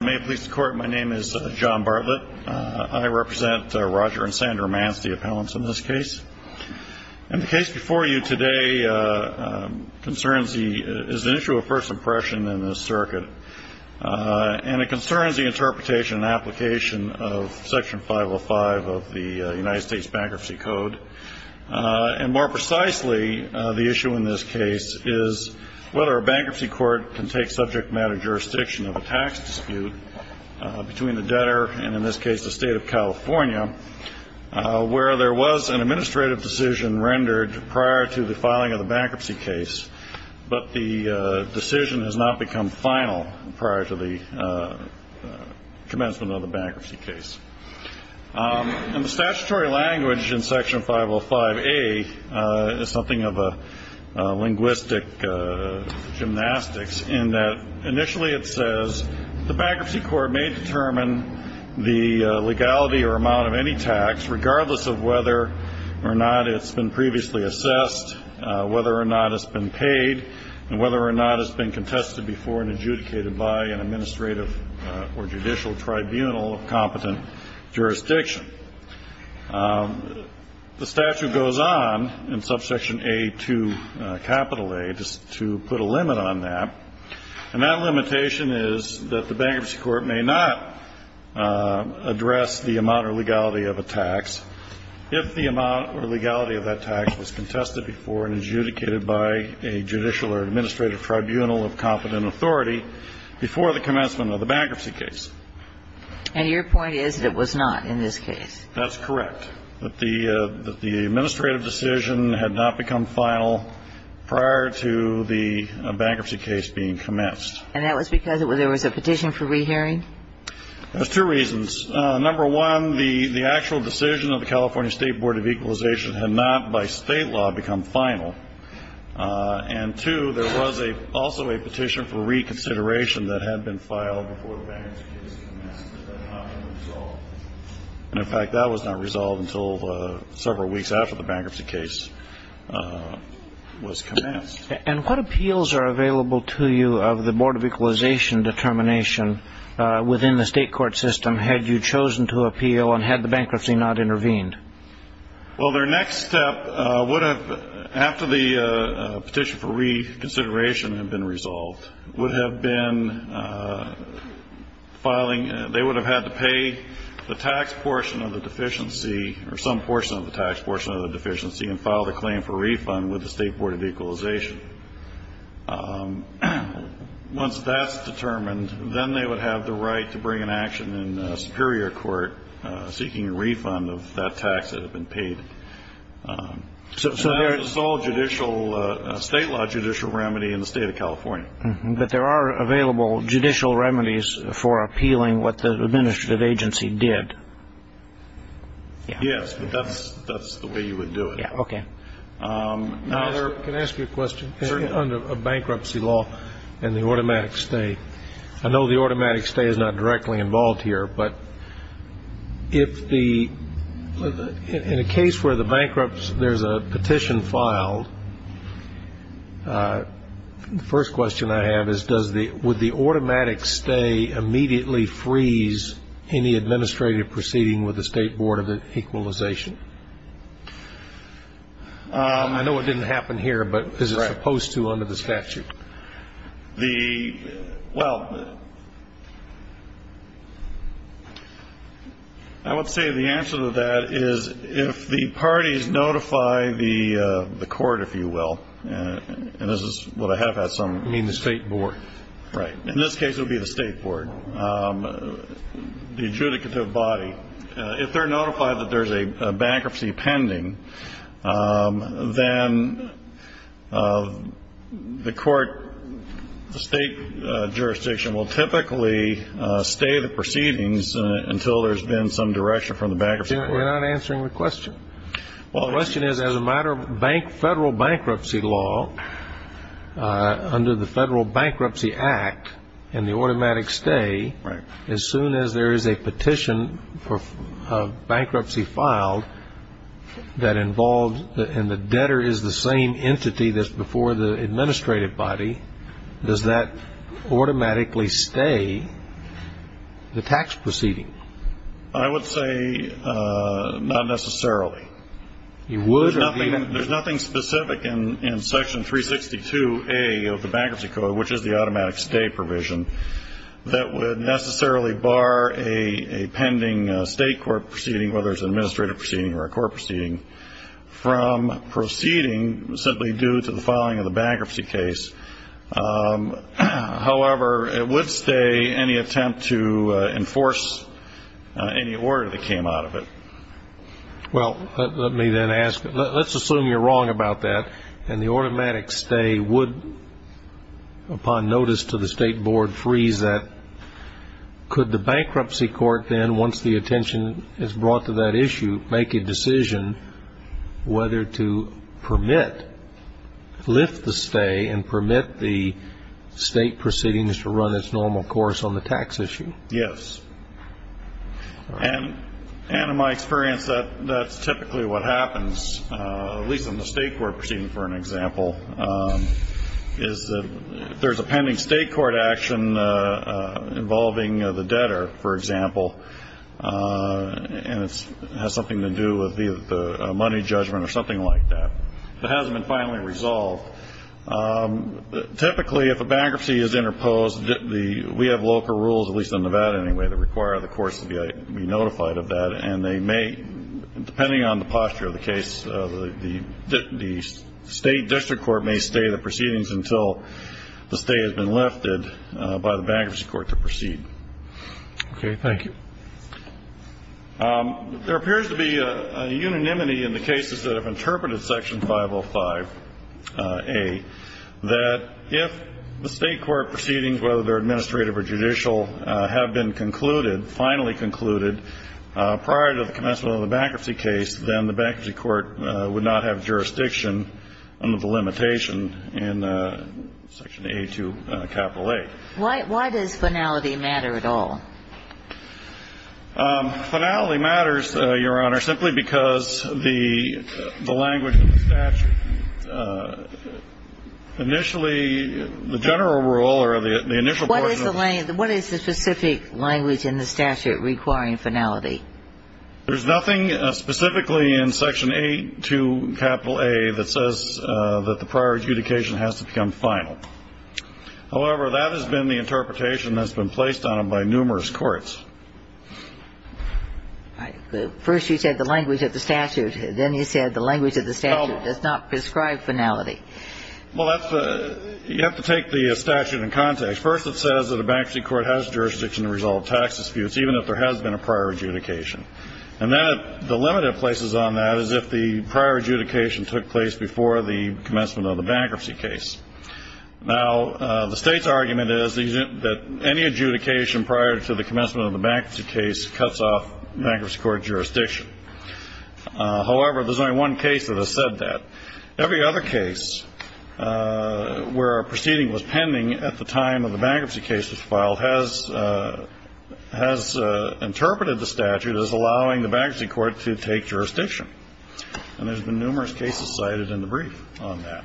May it please the court, my name is John Bartlett. I represent Roger and Sandra Manz, the appellants in this case. And the case before you today concerns the, is an issue of first impression in this circuit. And it concerns the interpretation and application of Section 505 of the United States Bankruptcy Code. And more precisely, the issue in this case is whether a bankruptcy court can take subject matter jurisdiction of a tax dispute between the debtor, and in this case the state of California, where there was an administrative decision rendered prior to the filing of the bankruptcy case, but the decision has not become final prior to the commencement of the bankruptcy case. And the statutory language in Section 505A is something of a linguistic gymnastics, in that initially it says the bankruptcy court may determine the legality or amount of any tax, regardless of whether or not it's been previously assessed, whether or not it's been paid, and whether or not it's been contested before and adjudicated by an administrative or judicial tribunal of competent jurisdiction. The statute goes on in Subsection A2, Capital A, to put a limit on that. And that limitation is that the bankruptcy court may not address the amount or legality of a tax if the amount or legality of that tax was contested before and adjudicated by a judicial or administrative tribunal of competent authority before the commencement of the bankruptcy case. And your point is that it was not in this case. That's correct, that the administrative decision had not become final prior to the bankruptcy case being commenced. And that was because there was a petition for rehearing? There's two reasons. Number one, the actual decision of the California State Board of Equalization had not by state law become final. And, two, there was also a petition for reconsideration that had been filed before the bankruptcy case commenced that had not been resolved. And, in fact, that was not resolved until several weeks after the bankruptcy case was commenced. And what appeals are available to you of the Board of Equalization determination within the state court system had you chosen to appeal and had the bankruptcy not intervened? Well, their next step would have, after the petition for reconsideration had been resolved, would have been filing. They would have had to pay the tax portion of the deficiency or some portion of the tax portion of the deficiency and file the claim for refund with the State Board of Equalization. Once that's determined, then they would have the right to bring an action in a superior court seeking a refund of that tax that had been paid. So it's all judicial, state law judicial remedy in the state of California. But there are available judicial remedies for appealing what the administrative agency did. Yes, but that's the way you would do it. Okay. Can I ask you a question? Certainly. Under bankruptcy law and the automatic stay, I know the automatic stay is not directly involved here, but in a case where there's a petition filed, the first question I have is, would the automatic stay immediately freeze any administrative proceeding with the State Board of Equalization? I know it didn't happen here, but is it supposed to under the statute? Well, I would say the answer to that is if the parties notify the court, if you will, and this is what I have had some. You mean the State Board? Right. In this case, it would be the State Board, the adjudicative body. If they're notified that there's a bankruptcy pending, then the court, the state jurisdiction will typically stay the proceedings until there's been some direction from the bankruptcy court. You're not answering the question. Well, the question is, as a matter of federal bankruptcy law, under the Federal Bankruptcy Act and the automatic stay, as soon as there is a petition of bankruptcy filed that involves and the debtor is the same entity that's before the administrative body, does that automatically stay the tax proceeding? I would say not necessarily. There's nothing specific in Section 362A of the Bankruptcy Code, which is the automatic stay provision, that would necessarily bar a pending state court proceeding, whether it's an administrative proceeding or a court proceeding, from proceeding simply due to the filing of the bankruptcy case. However, it would stay any attempt to enforce any order that came out of it. Well, let me then ask, let's assume you're wrong about that, and the automatic stay would, upon notice to the State Board, freeze that. Could the bankruptcy court then, once the attention is brought to that issue, make a decision whether to permit, lift the stay and permit the state proceedings to run its normal course on the tax issue? Yes. And in my experience, that's typically what happens, at least in the state court proceeding, for an example. There's a pending state court action involving the debtor, for example, and it has something to do with the money judgment or something like that. If it hasn't been finally resolved, typically if a bankruptcy is interposed, we have local rules, at least in Nevada anyway, that require the courts to be notified of that, and they may, depending on the posture of the case, the state district court may stay the proceedings until the stay has been lifted by the bankruptcy court to proceed. Okay. Thank you. There appears to be a unanimity in the cases that have interpreted Section 505A, that if the state court proceedings, whether they're administrative or judicial, have been concluded, finally concluded, prior to the commencement of the bankruptcy case, then the bankruptcy court would not have jurisdiction under the limitation in Section A2, capital A. Why does finality matter at all? Finality matters, Your Honor, simply because the language of the statute initially, the general rule or the initial portion of the statute. What is the specific language in the statute requiring finality? There's nothing specifically in Section A2, capital A, that says that the prior adjudication has to become final. However, that has been the interpretation that's been placed on it by numerous courts. First you said the language of the statute. Then you said the language of the statute does not prescribe finality. Well, you have to take the statute in context. First it says that a bankruptcy court has jurisdiction to resolve tax disputes, even if there has been a prior adjudication. And then the limit it places on that is if the prior adjudication took place before the commencement of the bankruptcy case. Now, the state's argument is that any adjudication prior to the commencement of the bankruptcy case cuts off bankruptcy court jurisdiction. However, there's only one case that has said that. Every other case where a proceeding was pending at the time of the bankruptcy case was filed has interpreted the statute as allowing the bankruptcy court to take jurisdiction. And there's been numerous cases cited in the brief on that.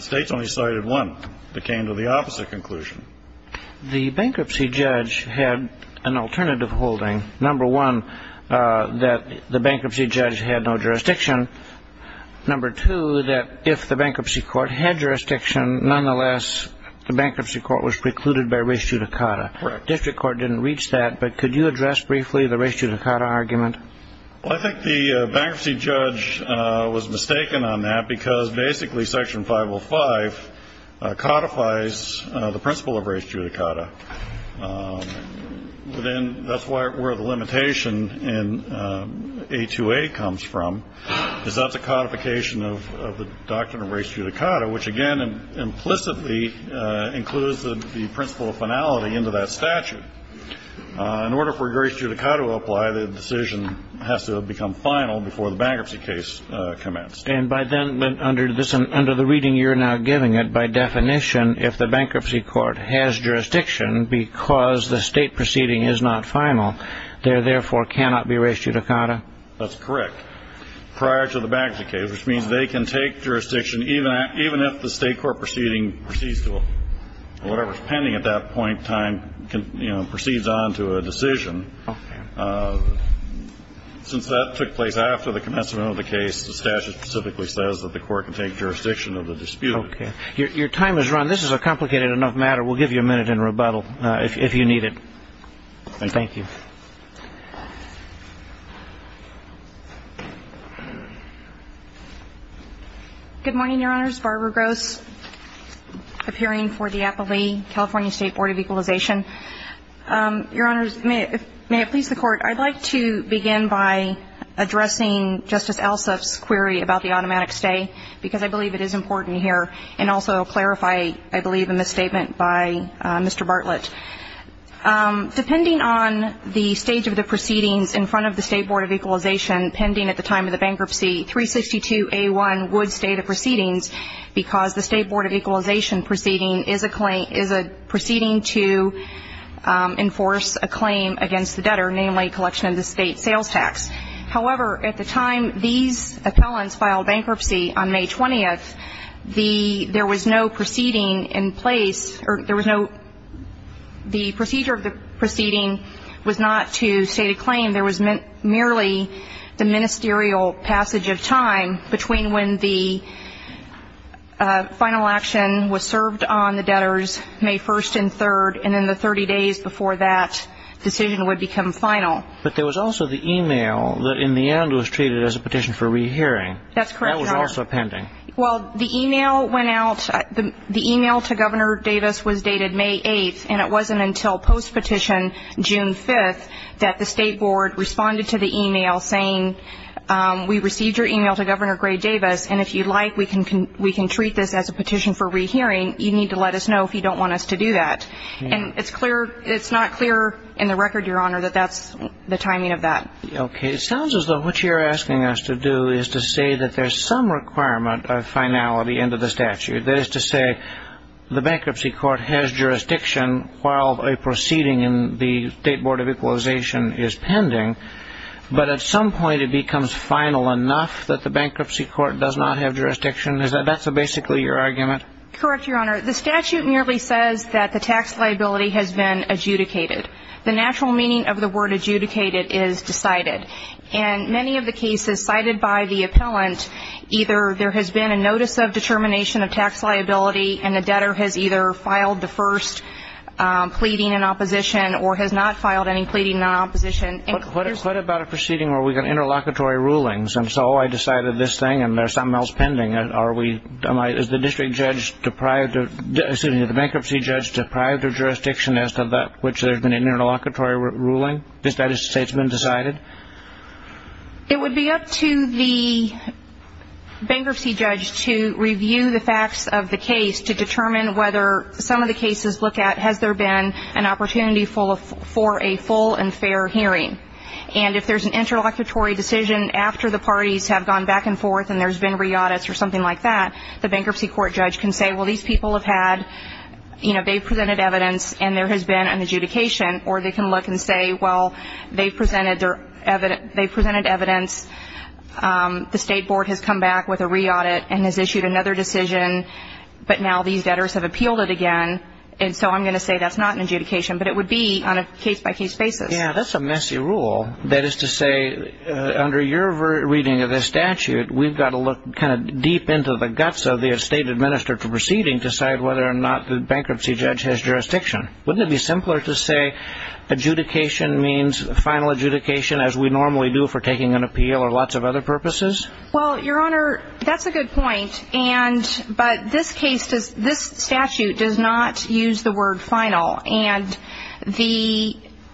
States only cited one that came to the opposite conclusion. The bankruptcy judge had an alternative holding. Number one, that the bankruptcy judge had no jurisdiction. Number two, that if the bankruptcy court had jurisdiction, nonetheless, the bankruptcy court was precluded by res judicata. Correct. District court didn't reach that, but could you address briefly the res judicata argument? Well, I think the bankruptcy judge was mistaken on that because basically Section 505 codifies the principle of res judicata. But then that's where the limitation in 828 comes from, is that's a codification of the doctrine of res judicata, which, again, implicitly includes the principle of finality into that statute. In order for res judicata to apply, the decision has to become final before the bankruptcy case commenced. And by then, under the reading you're now giving it, by definition, if the bankruptcy court has jurisdiction because the state proceeding is not final, there, therefore, cannot be res judicata? That's correct. Prior to the bankruptcy case, which means they can take jurisdiction, even if the state court proceeding proceeds to whatever is pending at that point in time, you know, proceeds on to a decision. Okay. Since that took place after the commencement of the case, the statute specifically says that the court can take jurisdiction of the dispute. Okay. Your time is run. This is a complicated enough matter. We'll give you a minute in rebuttal if you need it. Thank you. Thank you. Good morning, Your Honors. Barbara Gross, appearing for the Applee California State Board of Equalization. Your Honors, may it please the Court, I'd like to begin by addressing Justice Alsop's query about the automatic stay, because I believe it is important here, and also clarify, I believe, a misstatement by Mr. Bartlett. Depending on the stage of the proceedings in front of the State Board of Equalization pending at the time of the bankruptcy, 362A1 would stay the proceedings because the State Board of Equalization proceeding is a proceeding to enforce a claim against the debtor, namely collection of the state sales tax. However, at the time these appellants filed bankruptcy on May 20th, there was no proceeding in place, or there was no the procedure of the proceeding was not to state a claim. There was merely the ministerial passage of time between when the final action was served on the debtors, May 1st and 3rd, and then the 30 days before that decision would become final. But there was also the email that in the end was treated as a petition for rehearing. That's correct, Your Honor. That was also pending. Well, the email went out, the email to Governor Davis was dated May 8th, and it wasn't until post-petition June 5th that the State Board responded to the email saying, we received your email to Governor Gray Davis, and if you'd like, we can treat this as a petition for rehearing. You need to let us know if you don't want us to do that. And it's clear, it's not clear in the record, Your Honor, that that's the timing of that. Okay. It sounds as though what you're asking us to do is to say that there's some requirement of finality into the statute. That is to say, the bankruptcy court has jurisdiction while a proceeding in the State Board of Equalization is pending, but at some point it becomes final enough that the bankruptcy court does not have jurisdiction? That's basically your argument? Correct, Your Honor. The statute merely says that the tax liability has been adjudicated. The natural meaning of the word adjudicated is decided. In many of the cases cited by the appellant, either there has been a notice of determination of tax liability and the debtor has either filed the first pleading in opposition or has not filed any pleading in opposition. What about a proceeding where we've got interlocutory rulings, and so I decided this thing and there's something else pending? Is the bankruptcy judge deprived of jurisdiction as to which there's been an interlocutory ruling? Does that say it's been decided? It would be up to the bankruptcy judge to review the facts of the case to determine whether some of the cases look at has there been an opportunity for a full and fair hearing. And if there's an interlocutory decision after the parties have gone back and forth and there's been re-audits or something like that, the bankruptcy court judge can say, well, these people have had, you know, they've presented evidence and there has been an adjudication, or they can look and say, well, they've presented evidence, the state board has come back with a re-audit and has issued another decision, but now these debtors have appealed it again, and so I'm going to say that's not an adjudication, but it would be on a case-by-case basis. Yeah, that's a messy rule. That is to say, under your reading of this statute, we've got to look kind of deep into the guts of the estate administrator proceeding to decide whether or not the bankruptcy judge has jurisdiction. Wouldn't it be simpler to say adjudication means final adjudication, as we normally do for taking an appeal or lots of other purposes? Well, Your Honor, that's a good point, but this statute does not use the word final, and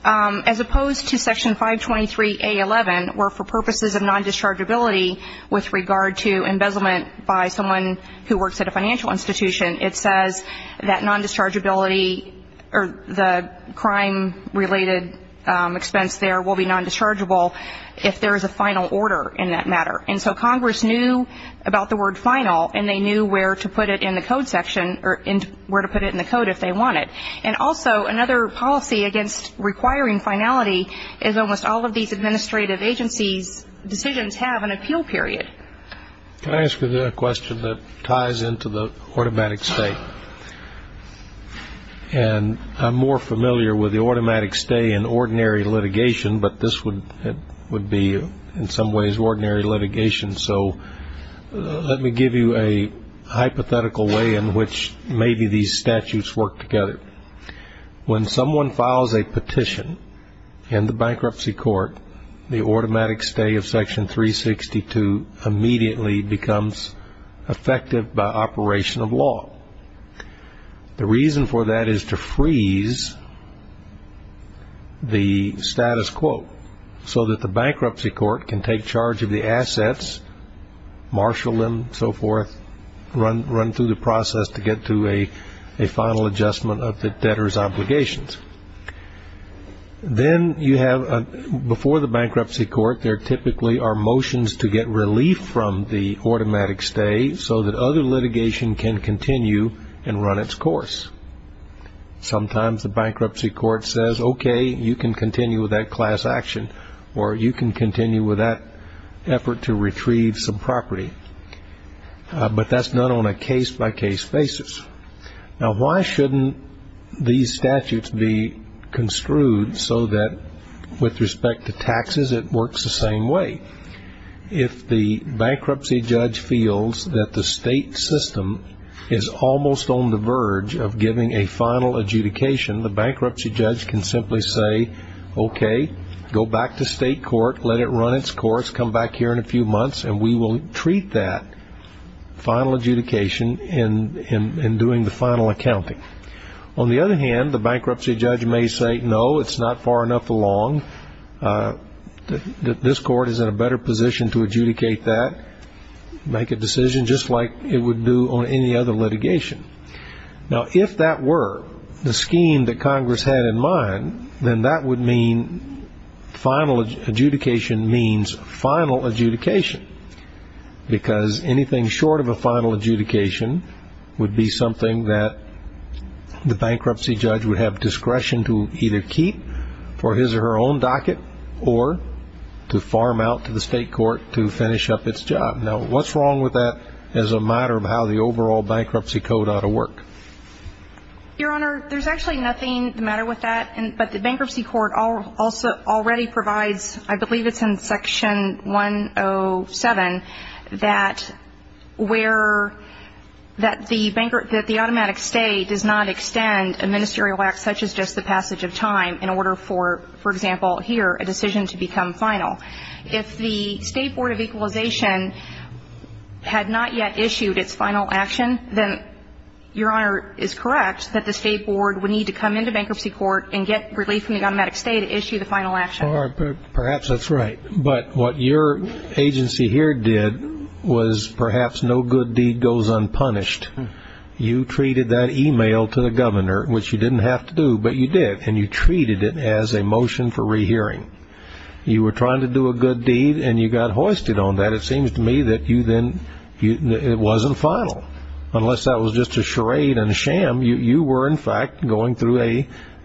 as opposed to Section 523A11, where for purposes of non-dischargeability with regard to embezzlement by someone who works at a financial institution, it says that non-dischargeability or the crime-related expense there will be non-dischargeable if there is a final order in that matter. And so Congress knew about the word final, and they knew where to put it in the code section or where to put it in the code if they wanted. And also another policy against requiring finality is almost all of these administrative agencies' decisions have an appeal period. Can I ask you a question that ties into the automatic stay? And I'm more familiar with the automatic stay in ordinary litigation, but this would be in some ways ordinary litigation. So let me give you a hypothetical way in which maybe these statutes work together. When someone files a petition in the bankruptcy court, the automatic stay of Section 362 immediately becomes effective by operation of law. The reason for that is to freeze the status quo so that the bankruptcy court can take charge of the assets, marshal them, so forth, run through the process to get to a final adjustment of the debtor's obligations. Then you have before the bankruptcy court there typically are motions to get relief from the automatic stay so that other litigation can continue and run its course. Sometimes the bankruptcy court says, okay, you can continue with that class action, or you can continue with that effort to retrieve some property. But that's not on a case-by-case basis. Now, why shouldn't these statutes be construed so that with respect to taxes it works the same way? Well, if the bankruptcy judge feels that the state system is almost on the verge of giving a final adjudication, the bankruptcy judge can simply say, okay, go back to state court, let it run its course, come back here in a few months, and we will treat that final adjudication in doing the final accounting. On the other hand, the bankruptcy judge may say, no, it's not far enough along. This court is in a better position to adjudicate that, make a decision, just like it would do on any other litigation. Now, if that were the scheme that Congress had in mind, then that would mean final adjudication means final adjudication, because anything short of a final adjudication would be something that the bankruptcy judge would have discretion to either keep for his or her own docket or to farm out to the state court to finish up its job. Now, what's wrong with that as a matter of how the overall bankruptcy code ought to work? Your Honor, there's actually nothing the matter with that. But the bankruptcy court already provides, I believe it's in Section 107, that the automatic stay does not extend a ministerial act such as just the passage of time in order for, for example, here, a decision to become final. If the State Board of Equalization had not yet issued its final action, then, Your Honor, it's correct that the State Board would need to come into bankruptcy court and get relief from the automatic stay to issue the final action. Perhaps that's right. But what your agency here did was perhaps no good deed goes unpunished. You treated that email to the governor, which you didn't have to do, but you did, and you treated it as a motion for rehearing. You were trying to do a good deed, and you got hoisted on that. It seems to me that you then, it wasn't final. Unless that was just a charade and a sham, you were, in fact, going through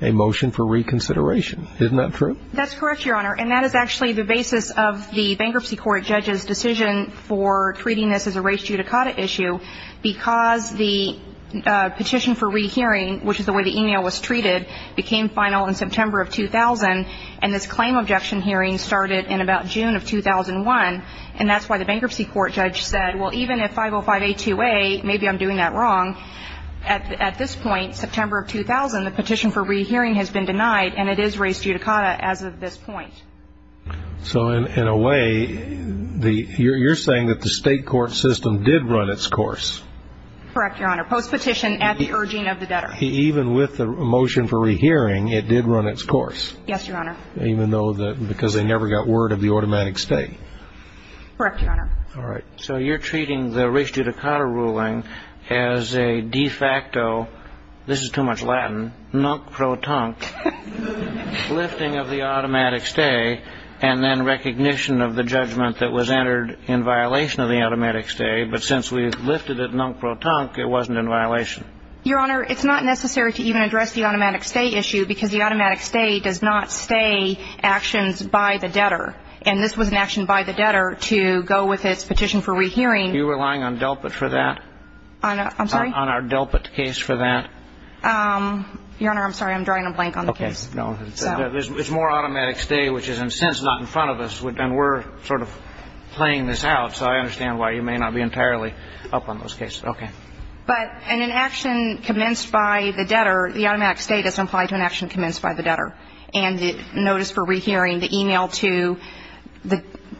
a motion for reconsideration. Isn't that true? That's correct, Your Honor. And that is actually the basis of the bankruptcy court judge's decision for treating this as a res judicata issue, because the petition for rehearing, which is the way the email was treated, became final in September of 2000, and this claim objection hearing started in about June of 2001, and that's why the bankruptcy court judge said, well, even if 505A2A, maybe I'm doing that wrong, at this point, September of 2000, the petition for rehearing has been denied, and it is res judicata as of this point. So in a way, you're saying that the state court system did run its course. Correct, Your Honor. Postpetition at the urging of the debtor. Even with the motion for rehearing, it did run its course. Yes, Your Honor. Even though, because they never got word of the automatic stay. Correct, Your Honor. All right. So you're treating the res judicata ruling as a de facto, this is too much Latin, nonc pro tonc, lifting of the automatic stay and then recognition of the judgment that was entered in violation of the automatic stay, but since we lifted it nonc pro tonc, it wasn't in violation. Your Honor, it's not necessary to even address the automatic stay issue, because the automatic stay does not stay actions by the debtor, and this was an action by the debtor to go with its petition for rehearing. You're relying on DELPIT for that? I'm sorry? On our DELPIT case for that? Your Honor, I'm sorry. I'm drawing a blank on the case. Okay. No. It's more automatic stay, which is in a sense not in front of us, and we're sort of playing this out, so I understand why you may not be entirely up on those cases. Okay. But in an action commenced by the debtor, the automatic stay does not apply to an action commenced by the debtor, and the notice for rehearing, the e-mail to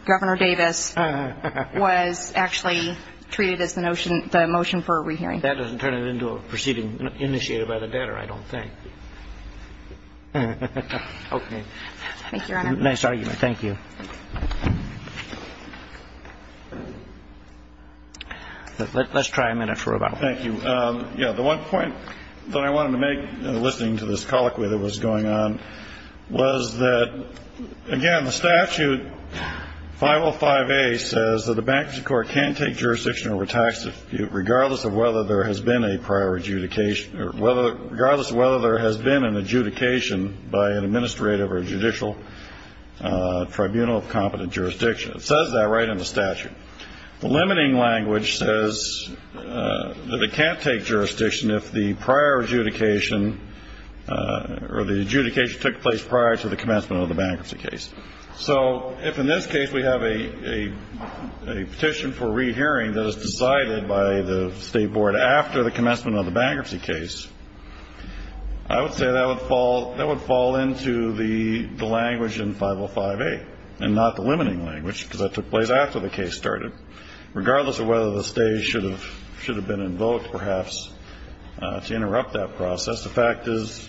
Governor Davis was actually treated as the motion for a rehearing. That doesn't turn it into a proceeding initiated by the debtor, I don't think. Thank you, Your Honor. Nice argument. Thank you. Let's try a minute for about one. Thank you. The one point that I wanted to make in listening to this colloquy that was going on was that, again, the statute 505A says that a bankruptcy court can't take jurisdiction over tax refute, regardless of whether there has been an adjudication by an administrative or judicial tribunal of competent jurisdiction. It says that right in the statute. The limiting language says that it can't take jurisdiction if the prior adjudication or the adjudication took place prior to the commencement of the bankruptcy case. So if in this case we have a petition for rehearing that is decided by the State Board after the commencement of the bankruptcy case, I would say that would fall into the language in 505A and not the limiting language, because that took place after the case started, regardless of whether the State should have been invoked, perhaps, to interrupt that process. The fact is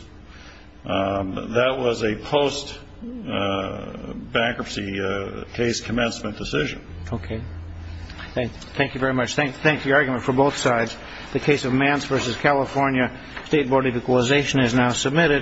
that was a post-bankruptcy case commencement decision. Okay. Thank you very much. Thank you argument for both sides. The case of Mance v. California State Board of Equalization is now submitted.